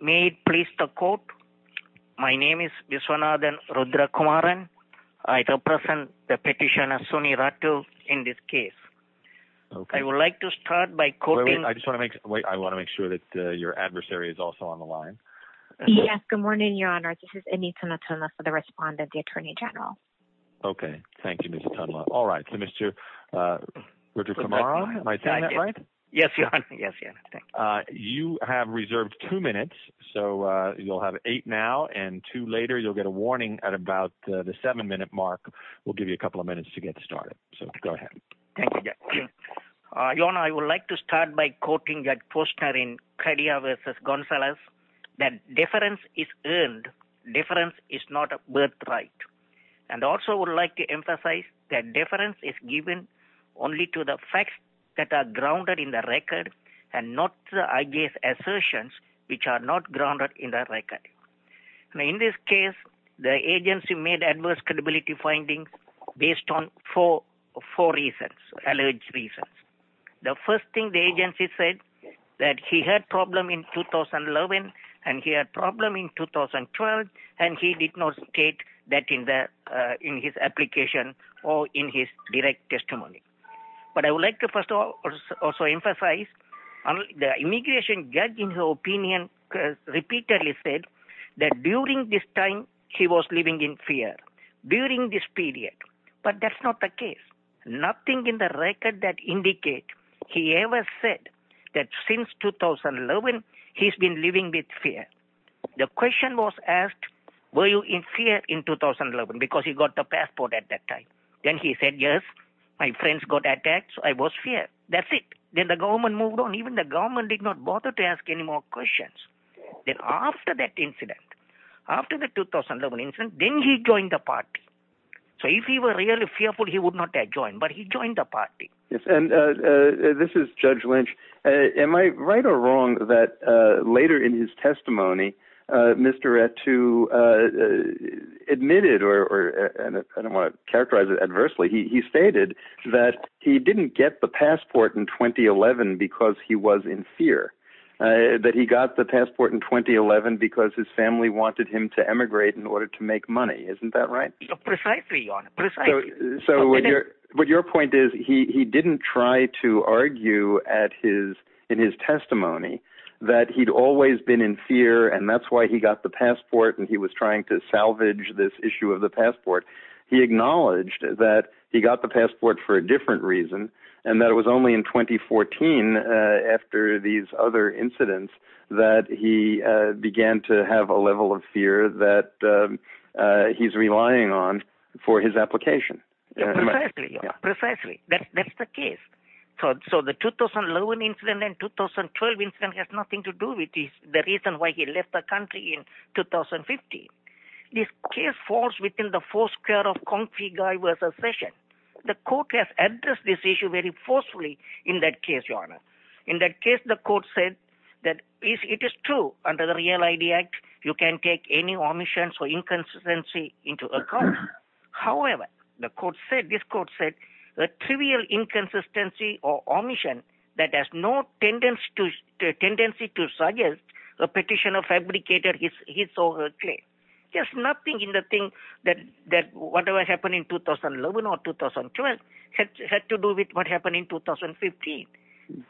May it please the court, my name is Viswanathan Rudrakumaran. I represent the petitioner Soni is also on the line. Yes, good morning, Your Honor. This is Anitana Tunla for the respondent, the Attorney General. Okay, thank you, Ms. Tunla. All right, so Mr. Rudrakumaran, am I saying that right? Yes, Your Honor. Yes, Your Honor. Thank you. You have reserved two minutes, so you'll have eight now and two later. You'll get a warning at about the seven minute mark. We'll give you a couple of minutes to get started. So go ahead. Thank you, Your Honor. I would like to start by quoting Judge Posner in Cardia v. Gonzalez, that deference is earned, deference is not a birthright. And I also would like to emphasize that deference is given only to the facts that are grounded in the record and not the IG's assertions which are not grounded in the record. Now in this case, the agency made adverse credibility findings based on four reasons, alleged reasons. The first thing the agency said that he had problem in 2011 and he had problem in 2012 and he did not state that in his application or in his direct testimony. But I would like to also emphasize the immigration judge in her opinion repeatedly said that during this time record that indicate he ever said that since 2011, he's been living with fear. The question was asked, were you in fear in 2011? Because he got the passport at that time. Then he said, yes, my friends got attacked. I was fear. That's it. Then the government moved on. Even the government did not bother to ask any more questions. Then after that incident, after the 2011 incident, then he joined the party. So if he were really fearful, he would not have joined. But he joined the party. And this is Judge Lynch. Am I right or wrong that later in his testimony, Mr. to admitted or I don't want to characterize it adversely. He stated that he didn't get the passport in 2011 because he was in fear that he got the passport in 2011 because his family wanted him to emigrate in order to make money. Isn't that right? Precisely. So what your what your he didn't try to argue at his in his testimony that he'd always been in fear. And that's why he got the passport. And he was trying to salvage this issue of the passport. He acknowledged that he got the passport for a different reason. And that was only in 2014. After these other incidents, that he began to have a level of fear that he's relying on for his application. Precisely. Precisely. That's the case. So the 2011 incident and 2012 incident has nothing to do with the reason why he left the country in 2015. This case falls within the four square of concrete guy was a session. The court has addressed this issue very forcefully. In that case, your honor. In that case, the court said that it is true under the Real ID Act, you can take any court said this court said a trivial inconsistency or omission that has no tendency to tendency to suggest a petition of fabricator. He's so clear. There's nothing in the thing that that whatever happened in 2011 or 2012 had to do with what happened in 2015.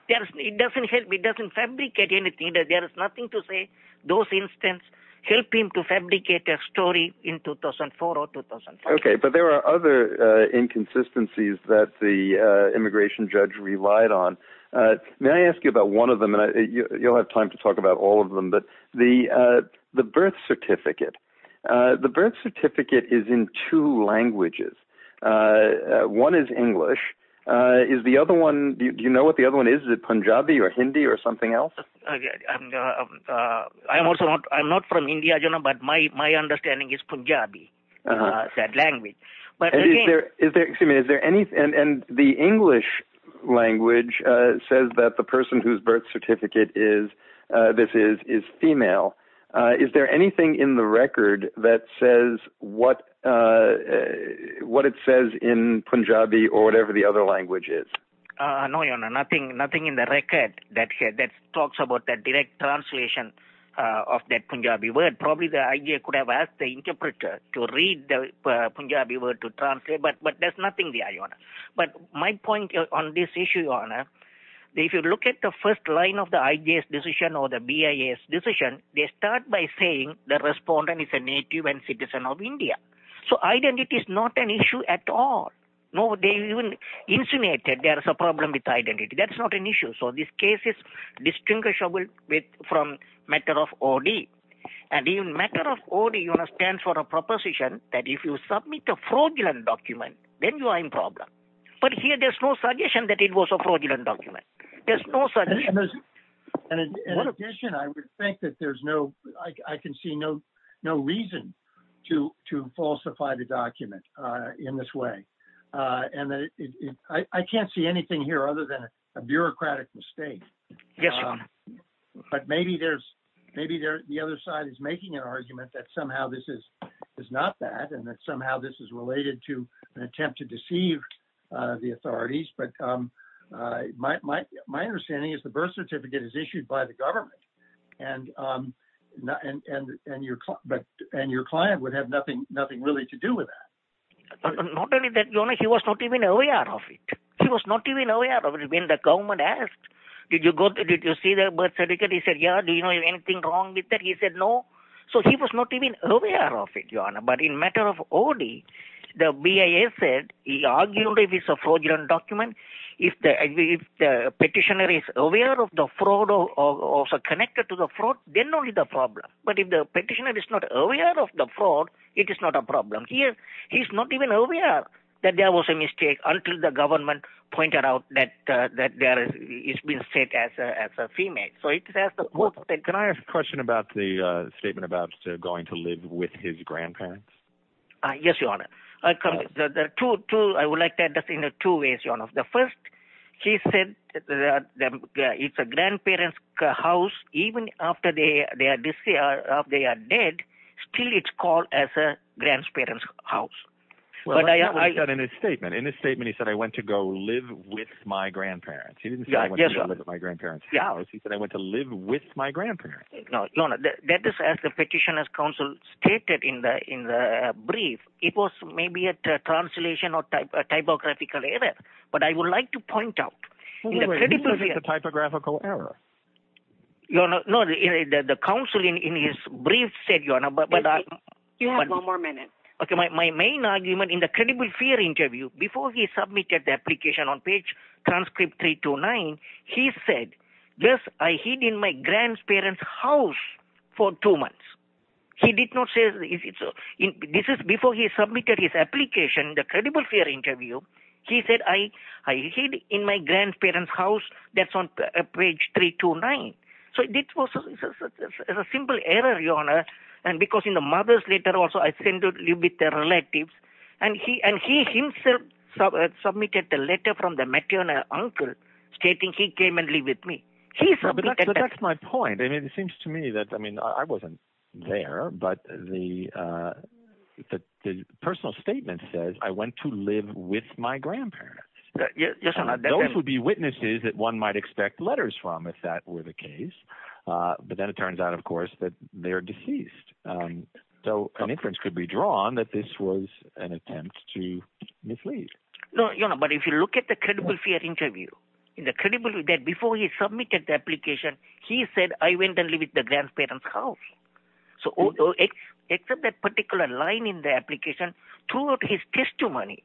It doesn't help. It doesn't fabricate anything. There is nothing to say. Those incidents help him to fabricate a story in 2004 or 2005. Okay, but there are other inconsistencies that the immigration judge relied on. May I ask you about one of them? And you'll have time to talk about all of them. But the the birth certificate, the birth certificate is in two languages. One is English. Is the other one? Do you know what the other one is? Is it Punjabi or Hindi or something else? I'm also not I'm not from India, you know, but my my understanding is Punjabi. That language. But is there is there is there any and the English language says that the person whose birth certificate is this is is female. Is there anything in the record that says what what it says in Punjabi or whatever the other language is? No, nothing. Nothing in the record that that talks about that direct translation of that Punjabi word. Probably the idea could have asked the interpreter to read the Punjabi word to translate. But but there's nothing there. But my point on this issue on if you look at the first line of the ideas decision or the BIA's decision, they start by saying the respondent is a native and citizen of India. So identity is not an issue at all. No, they even insinuated there is a problem with identity. That's not an issue. So this case is distinguishable with from matter of OD and even matter of OD stands for a proposition that if you submit a fraudulent document, then you are in problem. But here there's no suggestion that it was a fraudulent document. There's no such thing. And in addition, I would think that there's no I can see no reason to to falsify the document in this way. And I can't see anything here other than a bureaucratic mistake. Yes. But maybe there's maybe the other side is making an argument that somehow this is is not that and that somehow this is related to an attempt to deceive the authorities. But my my understanding is the birth certificate is issued by the government. And and your client would have nothing nothing really to do with that. Not only that, he was not even aware of it. He was not even aware of it. When the government asked, did you go did you see the birth certificate? He said, yeah. Do you know anything wrong with that? He said no. So he was not even aware of it. But in matter of OD, the BIA said he argued it's a fraudulent document. If the if the petitioner is aware of the fraud or also connected to the fraud, then only the problem. But if the petitioner is not aware of the fraud, it is not a problem here. He's not even aware that there was a mistake until the government pointed out that that there is being said as a female. So it says that. Can I ask a question about the statement about going to live with his grandparents? Yes, your honor. I come to the truth, too. I would like to add that in two ways, your honor. The first, he said that it's a grandparent's house. Even after they are deceased, they are dead. Still, it's called as a grandparent's house. Well, I got in a statement in a statement. He said I went to go live with my grandparents. He didn't get my grandparents. Yeah. He said I went to live with my grandparents. No, no, that is, as the petitioner's counsel stated in the in the brief, it was maybe a translation or a typographical error. But I would like to point out the typographical error. You're not the counseling in his brief said, you know, but you have one more minute. OK, my main argument in the credible fear interview before he submitted the application on page transcript three to nine, he said, yes, I hid in my grandparent's house for two months. He did not say this is before he submitted his application, the credible fear interview. He said, I hid in my grandparent's house. That's on page three to nine. So it was a simple error, your honor. And because in the mother's letter also, I tend to live with relatives. And he and he himself submitted a letter from the maternal uncle stating he came and live with me. He said, that's my point. I mean, it seems to me that I mean, I wasn't there. But the personal statement says I went to live with my grandparents. Those would be witnesses that one might expect letters from if that were the case. But then it turns out, of course, that they are deceased. So an inference could be drawn that this was an attempt to mislead. No, you know, but if you look at the credible fear interview in the credibility that before he submitted the application, he said, I went and lived with the grandparent's house. So except that particular line in the application to his testimony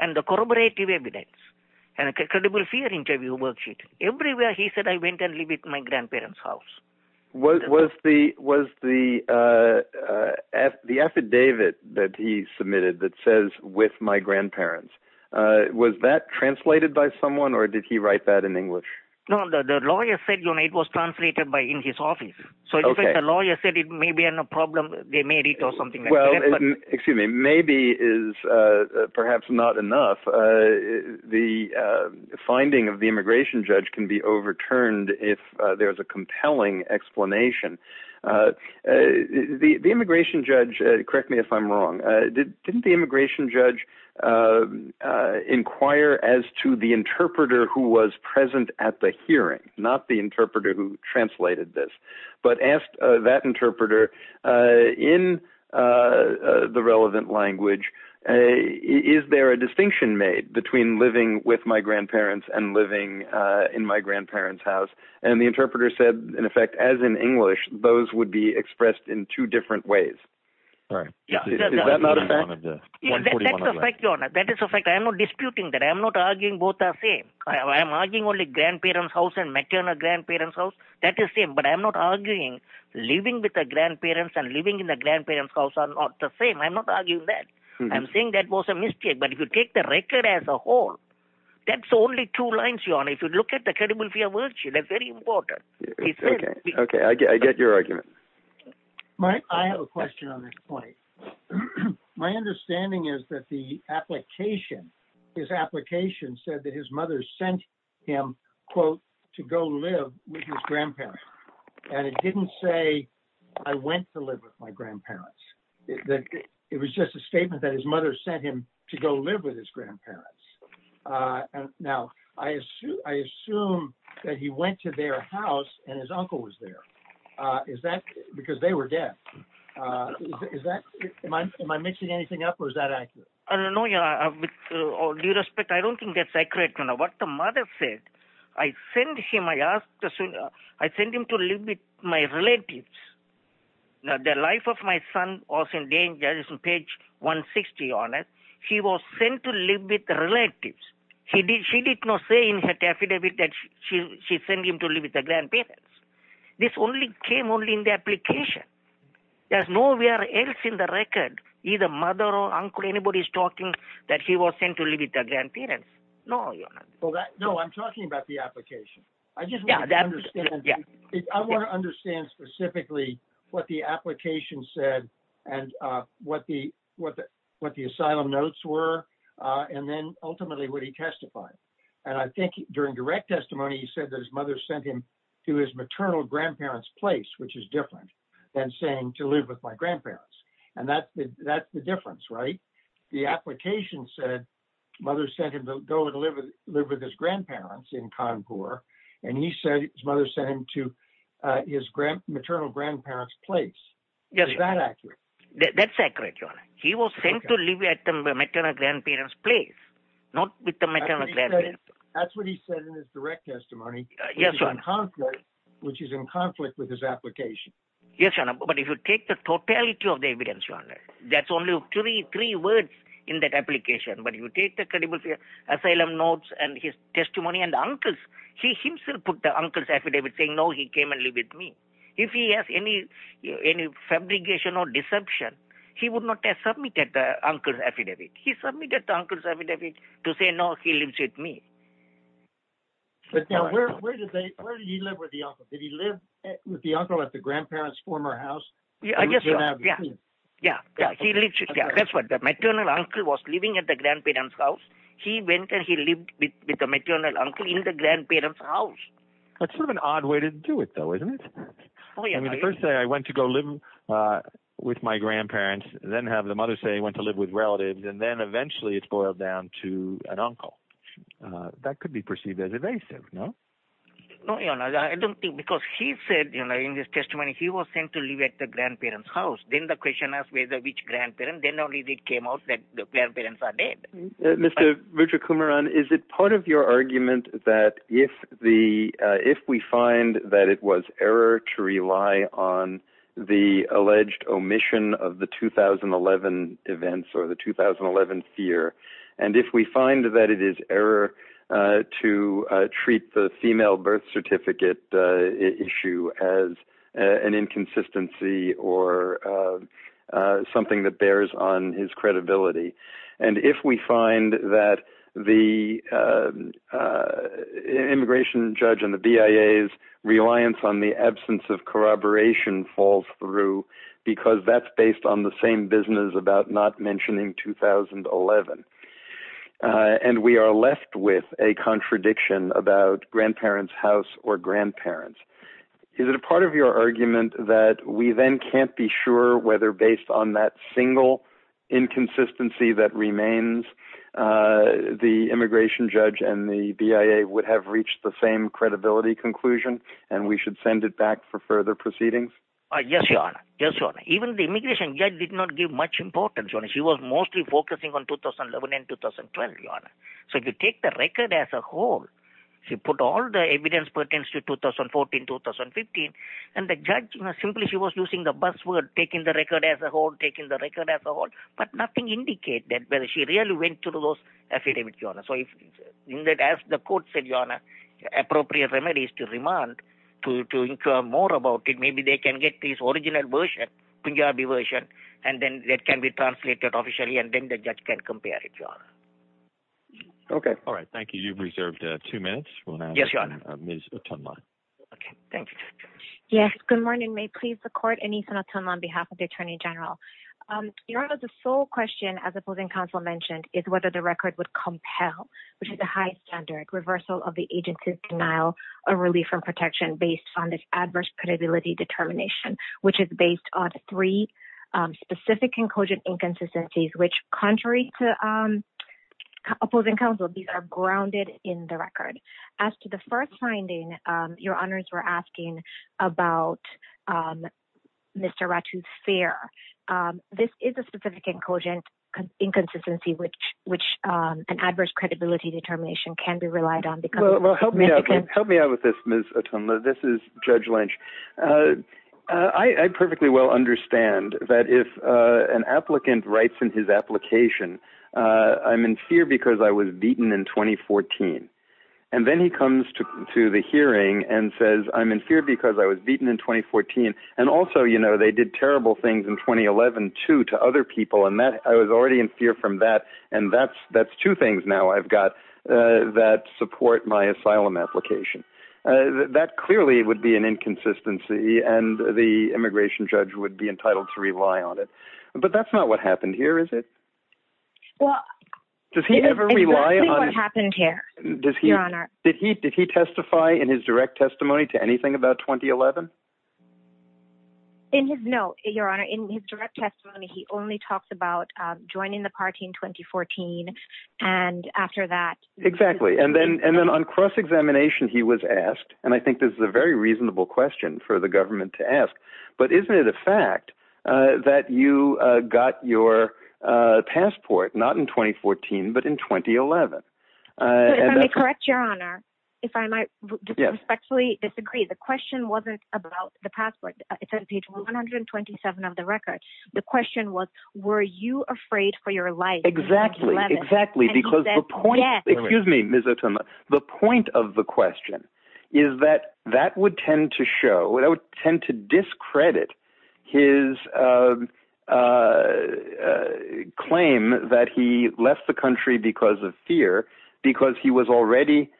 and the corroborative evidence and credible fear interview worksheet everywhere, he said, I went and lived with my grandparent's house. What was the was the the affidavit that he submitted that says with my grandparents, was that translated by someone or did he write that in English? No, the lawyer said it was translated by in his office. So the lawyer said it may be a problem. They made it or something. Well, excuse me, maybe is perhaps not enough. The finding of the immigration judge can be overturned if there is a compelling explanation. The immigration judge. Correct me if I'm wrong. Didn't the immigration judge inquire as to the interpreter who was present at the hearing, not the interpreter who translated this, but asked that interpreter in the relevant language, is there a distinction made between living with my grandparents and living in my grandparent's house? And the interpreter said, in effect, as in English, those would be expressed in two different ways. All right. Yeah. Is that not a fact? That is a fact. I'm not disputing that. I'm not arguing both the same. I'm arguing only grandparent's house and maternal grandparent's house. That is the same. But I'm not arguing living with the grandparents and living in the grandparent's house are not the same. I'm not arguing that. I'm saying that was a mistake. But if you take the record as a whole, that's only two lines. If you look at the credible fear virtue, that's very important. OK, OK, I get your argument. Mike, I have a question on this point. My understanding is that the application, his application said that his mother sent him, quote, to go live with his grandparents. And it didn't say I went to live with my grandparents. It was just a statement that his mother sent him to go live with his grandparents. Now, I assume that he went to their house and his uncle was there. Is that because they were dead? Is that am I mixing anything up or is that accurate? I don't know. With all due respect, I don't think that's accurate. What the mother said, I sent him, I asked, I sent him to live with my relatives. Now, the life of my son was in danger. It's on page 160 on it. He was sent to live with the relatives. He did. She did not say in her affidavit that she sent him to live with the grandparents. This only came only in the application. There's nowhere else in the record either mother or uncle. Anybody's talking that he was sent to live with the grandparents. No. Well, no, I'm talking about the application. I just want to understand. Yeah, I want to understand specifically what the application said and what the what what the asylum notes were. And then ultimately, would he testify? And I think during direct testimony, he said that his mother sent him to his maternal grandparents' place, which is different than saying to live with my grandparents. And that's that's the difference, right? The application said mother sent him to go and live with live with his grandparents in Cancun. And he said his mother sent him to his maternal grandparents' place. Is that accurate? That's accurate. He was sent to live at the maternal grandparents' place, not with the maternal grandparents. That's what he said in his direct testimony. Yes. Which is in conflict with his application. Yes. But if you take the totality of the evidence, that's only three words in that application. But you take the credible asylum notes and his testimony and the uncles, he himself put the uncle's affidavit saying, no, he came and lived with me. If he has any any fabrication or deception, he would not have submitted the uncle's affidavit. He submitted the uncle's affidavit to say, no, he lives with me. But where did he live with the uncle? Did he live with the uncle at the grandparents' former house? Yeah. Yeah. Yeah. Yeah. Yeah. That's what the maternal uncle was living at the grandparents' house. He went and he lived with the maternal uncle in the grandparents' house. That's sort of an odd way to do it, though, isn't it? I mean, the first day I went to go live with my grandparents, then have the mother say I went to live with relatives, and then eventually it's boiled down to an uncle. That could be perceived as evasive, no? No, you know, I don't think because he said, you know, in his testimony, he was sent to live at the grandparents' house. Then the question asked whether which grandparent, then only it came out that the grandparents are dead. Mr. Vijayakumaran, is it part of your alleged omission of the 2011 events or the 2011 fear? And if we find that it is error to treat the female birth certificate issue as an inconsistency or something that bears on his credibility, and if we find that the immigration judge and the BIA's reliance on the absence of corroboration falls through because that's based on the same business about not mentioning 2011, and we are left with a contradiction about grandparents' house or grandparents, is it a part of your argument that we then can't be sure whether based on that single inconsistency that remains, the immigration judge and the BIA would have reached the same conclusion and we should send it back for further proceedings? Yes, Your Honor. Even the immigration judge did not give much importance. She was mostly focusing on 2011 and 2012, Your Honor. So if you take the record as a whole, she put all the evidence pertains to 2014, 2015, and the judge, you know, simply she was using the buzzword, taking the record as a whole, taking the record as a whole, but nothing indicate that whether she really went through those affidavits, Your Honor. So in that, as the court said, Your Honor, appropriate remedy is to remand, to inquire more about it. Maybe they can get this original version, Punjabi version, and then that can be translated officially, and then the judge can compare it, Your Honor. Okay, all right. Thank you. You've reserved two minutes. Yes, Your Honor. Ms. Otunla. Okay, thank you, Judge. Yes, good morning. May it please the court, Anitha Otunla, on behalf of the Attorney General. Your Honor, the sole question, as opposing counsel mentioned, is whether the record would compel, which is a high standard, reversal of the agency's denial of relief from protection based on this adverse credibility determination, which is based on three specific incogent inconsistencies, which, contrary to opposing counsel, these are grounded in the record. As to the first finding, Your Honors, we're asking about Mr. Ratu's fear. This is a specific incogent inconsistency, which an adverse credibility determination can be relied on. Well, help me out with this, Ms. Otunla. This is Judge Lynch. I perfectly well understand that if an applicant writes in his application, I'm in fear because I was beaten in 2014. Then he comes to the hearing and says, I'm in fear because I was beaten in 2014. Also, they did terrible things in 2011, too, to other people. I was already in fear from that. That's two things now I've got that support my asylum application. That clearly would be an inconsistency, and the immigration judge would be entitled to rely on it. That's not what happened here, is it? Exactly what happened here, Your Honor. Did he testify in his direct testimony to anything about 2011? In his no, Your Honor. In his direct testimony, he only talks about joining the party in 2014, and after that... Exactly. Then on cross-examination, he was asked, and I think this is a very reasonable question for the government to ask, but isn't it a fact that you got your passport not in 2014 but in 2011? Let me correct you, Your Honor, if I might respectfully disagree. The question wasn't about the passport. It's on page 127 of the record. The question was, were you afraid for your life in 2011? Exactly, exactly. And he said, yes. Excuse me, Ms. Otunla. The point of the question is that that would tend to show, that would tend to discredit his claim that he left the country because of fear, because he was already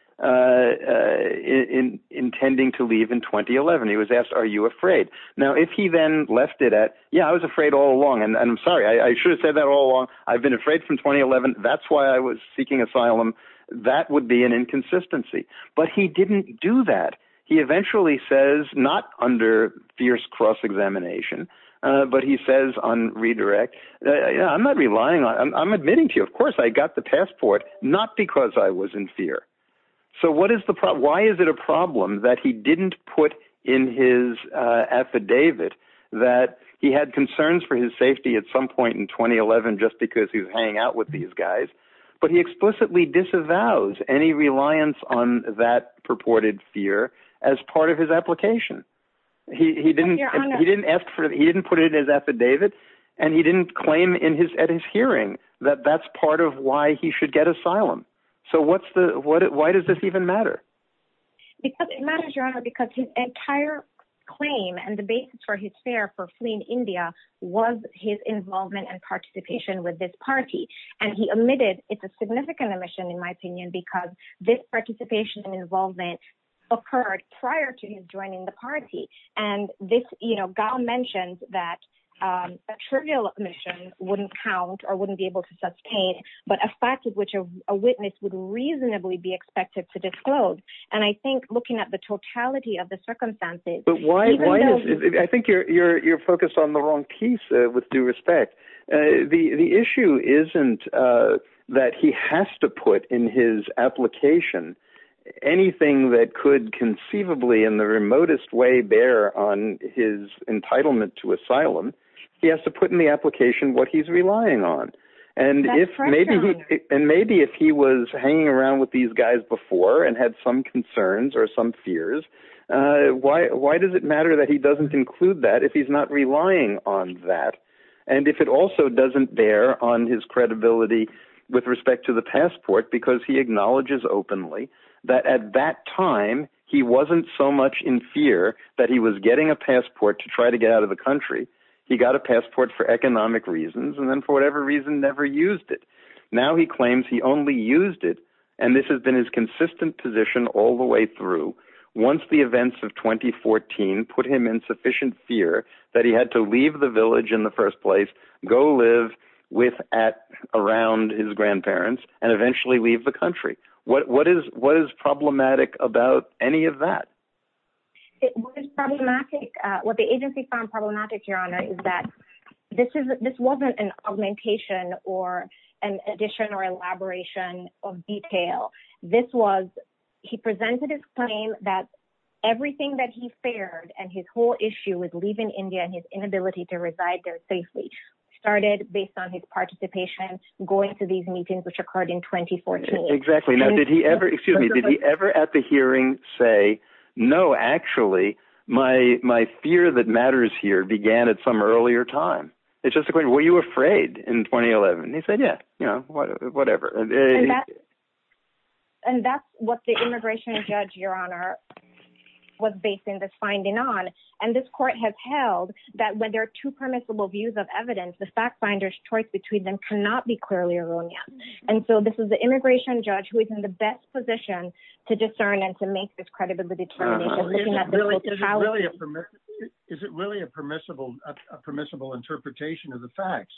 intending to leave in 2011. He was asked, are you afraid? Now, if he then left it at, yeah, I was afraid all along, and I'm sorry. I should have said that all along. I've been afraid from 2011. That's why I was seeking asylum. That would be an inconsistency, but he didn't do that. He eventually says, not under fierce cross-examination, but he says on redirect, I'm not relying on, I'm admitting to you, of course, I got the passport, not because I was in fear. So what is the problem? Why is it a problem that he didn't put in his affidavit that he had concerns for his safety at some point in 2011 just because he's hanging out with these fear as part of his application? He didn't put it in his affidavit, and he didn't claim at his hearing that that's part of why he should get asylum. So why does this even matter? Because it matters, Your Honor, because his entire claim and the basis for his fear for fleeing India was his involvement and participation with this party, and he admitted it's a significant omission, in my opinion, because this participation and involvement occurred prior to his joining the party. And this, you know, Gao mentioned that a trivial omission wouldn't count or wouldn't be able to sustain, but a fact of which a witness would reasonably be expected to disclose. And I think looking at the totality of the circumstances... But why? I think you're focused on the application. Anything that could conceivably in the remotest way bear on his entitlement to asylum, he has to put in the application what he's relying on. And maybe if he was hanging around with these guys before and had some concerns or some fears, why does it matter that he doesn't include that if he's not relying on that? And if it also doesn't bear on his credibility with respect to the passport, because he acknowledges openly that at that time he wasn't so much in fear that he was getting a passport to try to get out of the country, he got a passport for economic reasons, and then for whatever reason never used it. Now he claims he only used it, and this has been his consistent position all the way through. Once the events of 2014 put him in sufficient fear that he leave the village in the first place, go live around his grandparents, and eventually leave the country. What is problematic about any of that? It was problematic. What the agency found problematic, Your Honor, is that this wasn't an augmentation or an addition or elaboration of detail. This was... He presented his claim that everything that he feared and his whole issue with India and his inability to reside there safely started based on his participation going to these meetings which occurred in 2014. Exactly. Now did he ever, excuse me, did he ever at the hearing say, no, actually my fear that matters here began at some earlier time? It's just a question, were you afraid in 2011? He said, yeah, you know, whatever. And that's what the immigration judge, Your Honor, was based in this finding on. And this court has held that when there are two permissible views of evidence, the fact finder's choice between them cannot be clearly erroneous. And so this is the immigration judge who is in the best position to discern and to make this credible determination. Is it really a permissible interpretation of the facts?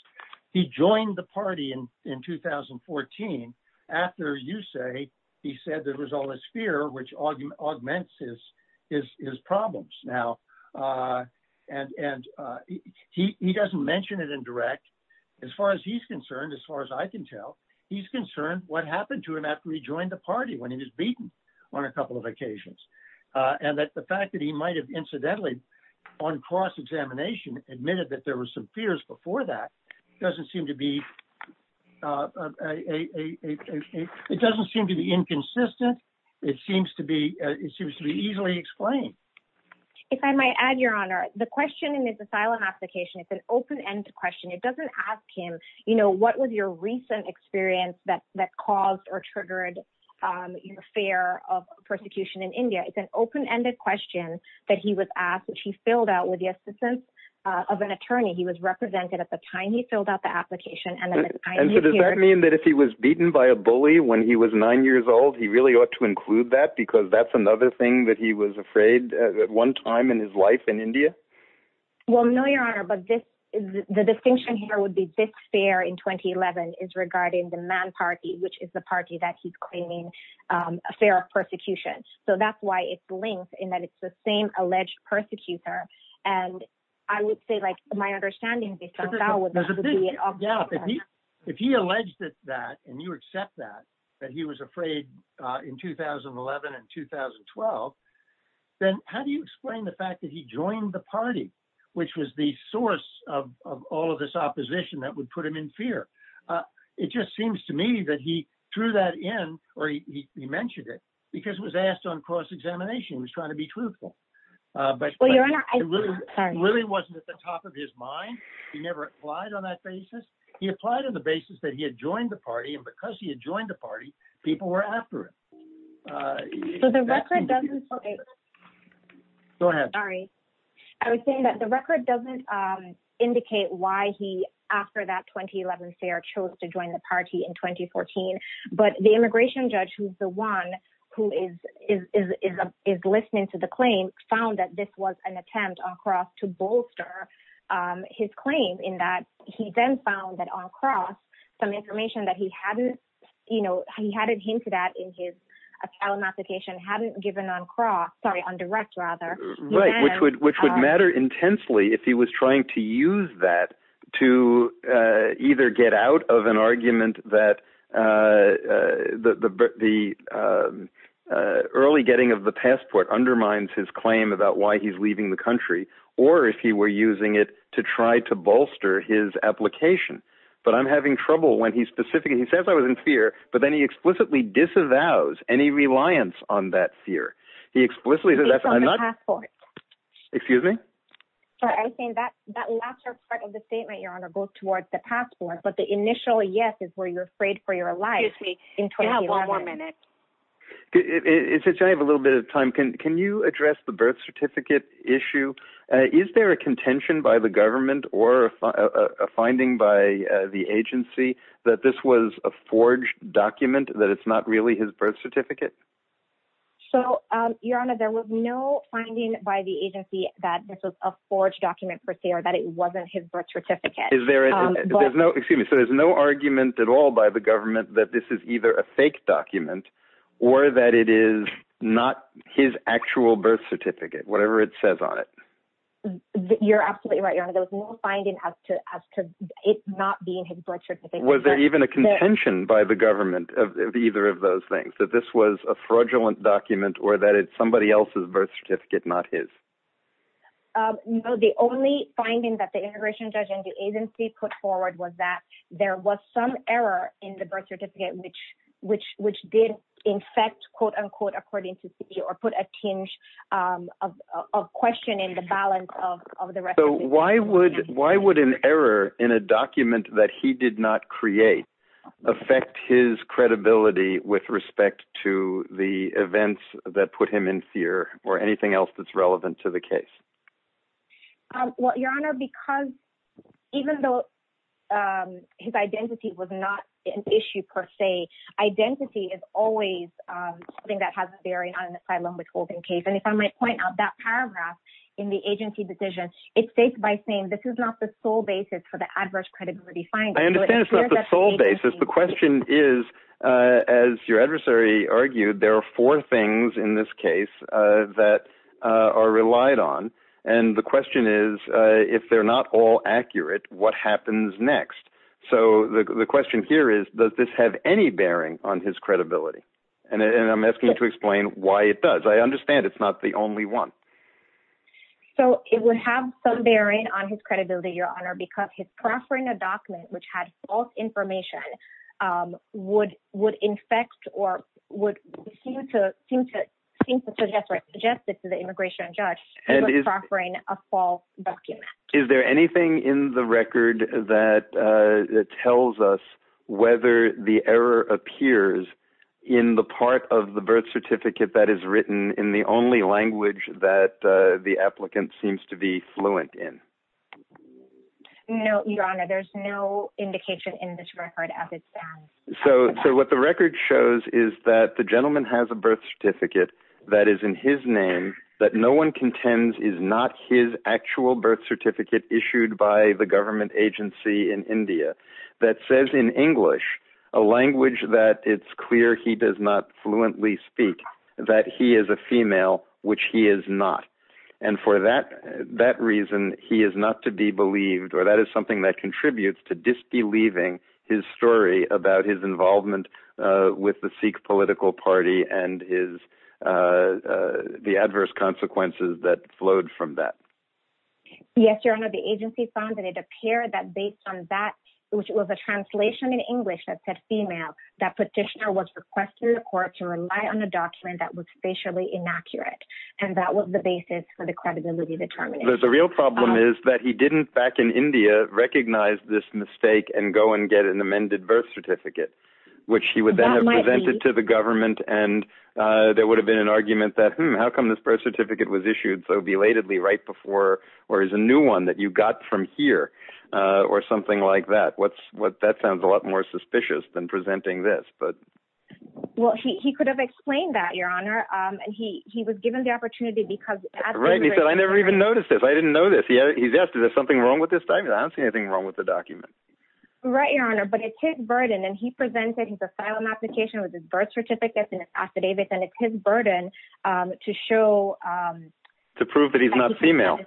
He joined the party in 2014 after, you say, he said there was all this fear which augments his problems now. And he doesn't mention it in direct. As far as he's concerned, as far as I can tell, he's concerned what happened to him after he joined the party when he was beaten on a couple of occasions. And that the fact that he might have incidentally on cross-examination admitted that there were some fears before that doesn't seem to be inconsistent. It seems to be easily explained. If I might add, Your Honor, the question in his asylum application, it's an open-ended question. It doesn't ask him, you know, what was your recent experience that caused or triggered your fear of persecution in India? It's an open-ended question that he was asked, which he filled out with the assistance of an attorney. He was represented at the time he filled out the application. And so does that mean that if he was beaten by a bully when he was nine years old, he really ought to include that because that's another thing that he was afraid at one time in his life in India? Well, no, Your Honor, but the distinction here would be this fear in 2011 is regarding the Man Party, which is the party that he's claiming a fear of persecution. So that's why it's linked in that it's the same alleged persecutor. And I would say, like, my understanding is that if he alleged that, and you accept that, that he was afraid in 2011 and 2012, then how do you explain the fact that he joined the party, which was the source of all of this opposition that would put him in fear? It just seems to me that he threw that in, or he mentioned it because it was asked on cross-examination. He was trying to be truthful, but it really wasn't at the top of his mind. He never applied on that basis. He applied on the basis that he had joined the party, and because he had joined the party, people were after it. Go ahead. Sorry. I was saying that the record doesn't indicate why he, after that 2011 fair, chose to join the party in 2014. But the immigration judge, who's the one who is listening to the claim, found that this was an attempt on cross to bolster his claim in that he then found that on cross, some information that he hadn't, you know, he hadn't hinted at in his application hadn't given on cross, sorry, on direct rather. Right, which would matter intensely if he was trying to use that to either get out of an argument that the early getting of the passport undermines his claim about why he's leaving the country, or if he were using it to try to bolster his application. But I'm having trouble when he specifically, he says I was in fear, but then he explicitly disavows any reliance on that fear. He explicitly says that I'm not, excuse me. Sorry, I think that that last part of the statement, Your Honour, goes towards the passport. But the initial yes is where you're afraid for your life. Excuse me, you have one more minute. Since I have a little bit of time, can you address the birth certificate issue? Is there a contention by the government or a finding by the agency that this was a forged document that it's not really his birth certificate? So, Your Honour, there was no finding by the agency that this was a forged document per se, or that it wasn't his birth certificate. Is there, there's no, excuse me, so there's no argument at all by the government that this is either a fake document, or that it is not his actual birth certificate, whatever it says on it. You're absolutely right, Your Honour, there was no finding as to it not being his birth certificate. Was there even a contention by the government that this was a fraudulent document, or that it's somebody else's birth certificate, not his? No, the only finding that the integration judge and the agency put forward was that there was some error in the birth certificate, which did infect, quote, unquote, according to CE, or put a tinge of question in the balance of the record. So why would an error in a document that he did not create affect his credibility with respect to the events that put him in fear, or anything else that's relevant to the case? Well, Your Honour, because even though his identity was not an issue per se, identity is always something that has a bearing on an asylum withholding case. And if I might point out that paragraph in the agency decision, it states by sole basis for the adverse credibility finding. I understand it's not the sole basis. The question is, as your adversary argued, there are four things in this case that are relied on. And the question is, if they're not all accurate, what happens next? So the question here is, does this have any bearing on his credibility? And I'm asking you to explain why it does. I understand it's not the only one. So it would have some bearing on his credibility, Your Honour, because he's proffering a document which had false information would infect or would seem to suggest to the immigration judge that he was proffering a false document. Is there anything in the record that tells us whether the error appears in the part of the birth certificate that is written in the only language that the applicant seems to be fluent in? No, Your Honour, there's no indication in this record at this time. So what the record shows is that the gentleman has a birth certificate that is in his name, that no one contends is not his actual birth certificate issued by the government agency in India that says in English, a language that it's clear he does not fluently speak, that he is a female, which he is not. And for that reason, he is not to be believed, or that is something that contributes to disbelieving his story about his involvement with the Sikh political party and the adverse consequences that flowed from that. Yes, Your Honour, the agency found that it appeared that based on that, which was a translation in English that said female, that petitioner was requested in court to rely on a document that was facially inaccurate. And that was the basis for the credibility determination. The real problem is that he didn't back in India recognize this mistake and go and get an amended birth certificate, which he would then have presented to the government. And there would have been an argument that, hmm, how come this birth certificate was issued so belatedly right before, or is a new one that you got from here or something like that? That sounds a lot more Your Honour, and he was given the opportunity because... Right, and he said, I never even noticed this. I didn't know this. He's asked, is there something wrong with this document? I don't see anything wrong with the document. Right, Your Honour, but it's his burden. And he presented his asylum application with his birth certificates and his affidavits. And it's his burden to show... To prove that he's not female.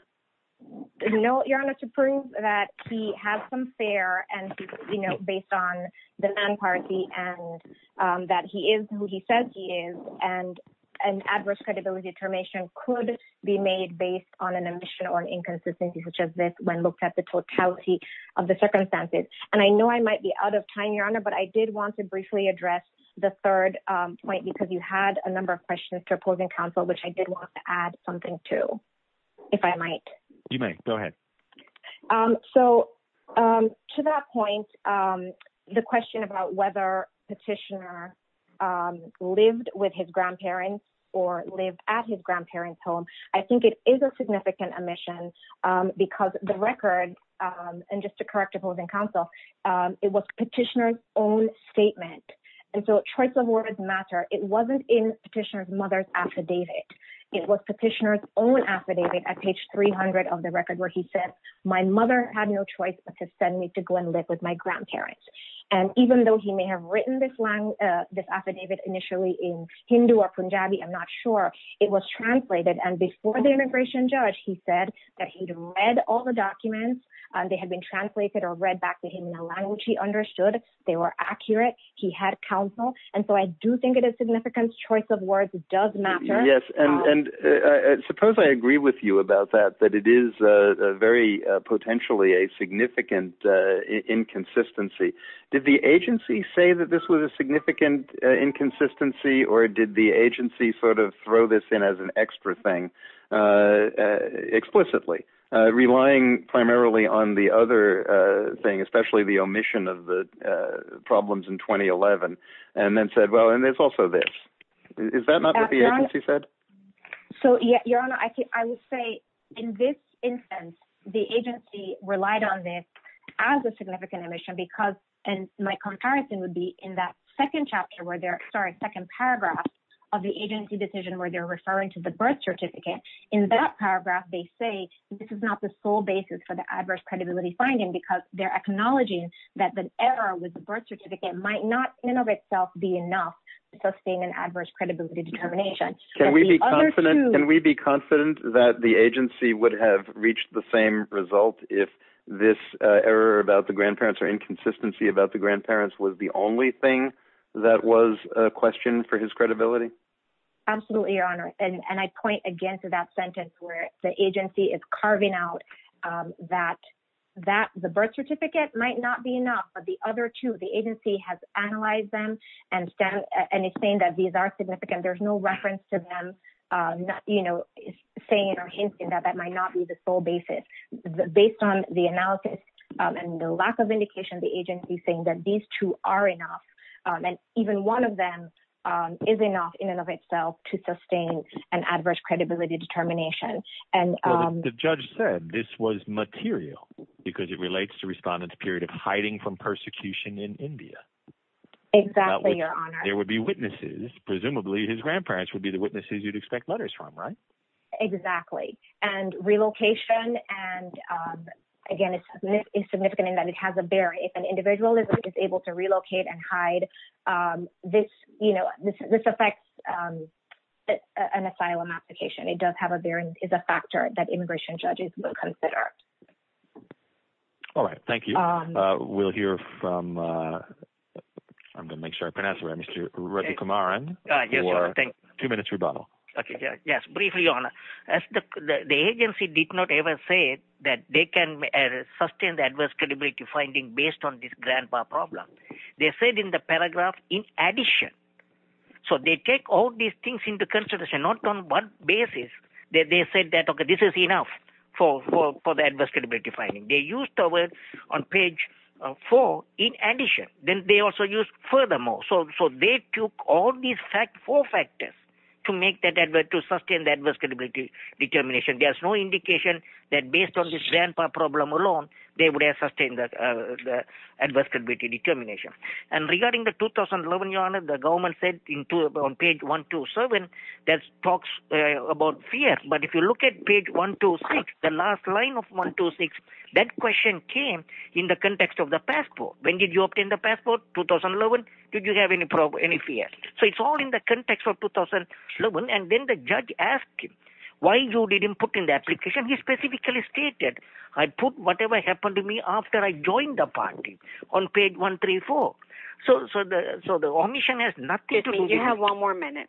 No, Your Honour, to prove that he has some fare and, you know, based on the man party and that he is who he says he is, and an adverse credibility determination could be made based on an omission or an inconsistency such as this when looked at the totality of the circumstances. And I know I might be out of time, Your Honour, but I did want to briefly address the third point because you had a number of questions to opposing counsel, which I did want to add something to, if I might. You may, go ahead. Um, so, to that point, the question about whether Petitioner lived with his grandparents or lived at his grandparents' home, I think it is a significant omission because the record, and just to correct opposing counsel, it was Petitioner's own statement. And so, choice of words matter. It wasn't in Petitioner's mother's affidavit. It was Petitioner's own record where he said, my mother had no choice but to send me to go and live with my grandparents. And even though he may have written this affidavit initially in Hindu or Punjabi, I'm not sure, it was translated. And before the immigration judge, he said that he'd read all the documents and they had been translated or read back to him in a language he understood. They were accurate. He had counsel. And so, I do think it is significant. Choice of words does matter. Yes. And suppose I agree with you about that, that it is very potentially a significant inconsistency. Did the agency say that this was a significant inconsistency or did the agency sort of throw this in as an extra thing explicitly, relying primarily on the other thing, especially the omission of the problems in 2011, and then said, well, and there's also this. Is that not what the agency said? Your Honor, I would say in this instance, the agency relied on this as a significant omission because, and my comparison would be in that second paragraph of the agency decision where they're referring to the birth certificate. In that paragraph, they say this is not the sole basis for the adverse credibility finding because they're acknowledging that the error with the birth certificate might not in and of itself be enough to sustain an adverse credibility determination. Can we be confident that the agency would have reached the same result if this error about the grandparents or inconsistency about the grandparents was the only thing that was a question for his credibility? Absolutely, Your Honor. And I point again to that sentence where the agency is carving out that the birth certificate might not be enough, but the other two, the agency has analyzed them and it's saying that these are significant. There's no reference to them saying or hinting that that might not be the sole basis. Based on the analysis and the lack of indication, the agency is saying that these two are enough, and even one of them is enough in and of itself to sustain an adverse credibility determination. The judge said this was material because it would be witnesses. Presumably, his grandparents would be the witnesses you'd expect letters from, right? Exactly. And relocation, and again, it's significant in that it has a bearing. If an individual is able to relocate and hide, this affects an asylum application. It does have a bearing, is a factor that immigration judges will consider. All right. Thank you. We'll hear from... I'm going to make sure I pronounce your name right, Mr. Redukumaran, for a two-minute rebuttal. Okay. Yes. Briefly, Your Honor. The agency did not ever say that they can sustain the adverse credibility finding based on this grandpa problem. They said in the paragraph, in addition. So they take all these things into consideration, not on one basis. They said that, okay, this is enough for the adverse credibility finding. They used the word on page four, in addition. Then they also used furthermore. So they took all these four factors to make that, to sustain the adverse credibility determination. There's no indication that based on this grandpa problem alone, they would have sustained the adverse credibility determination. And regarding the 2011, Your Honor, the government said on page 127, that talks about fear. But if you look at page 126, the last line of 126, that question came in the context of the passport. When did you obtain the passport? 2011. Did you have any fear? So it's all in the context of 2011. And then the judge asked him, why you didn't put in the application? He specifically stated, I put whatever happened to me after I joined the party, on page 134. So the omission has nothing... It means you have one more minute.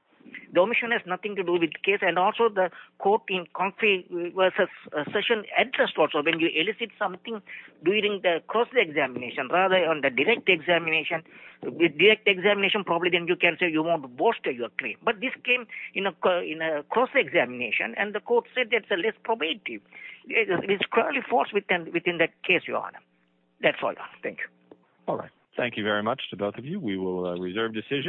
The omission has nothing to do with the case. And also the court in conflict versus session addressed also when you elicit something during the cross-examination, rather on the direct examination. With direct examination, probably then you can say you won't bolster your claim. But this came in a cross-examination, and the court said that's less probative. It's clearly false within the case, Your Honor. That's all. Thank you. All right. Thank you very much to both of you. We will reserve decision.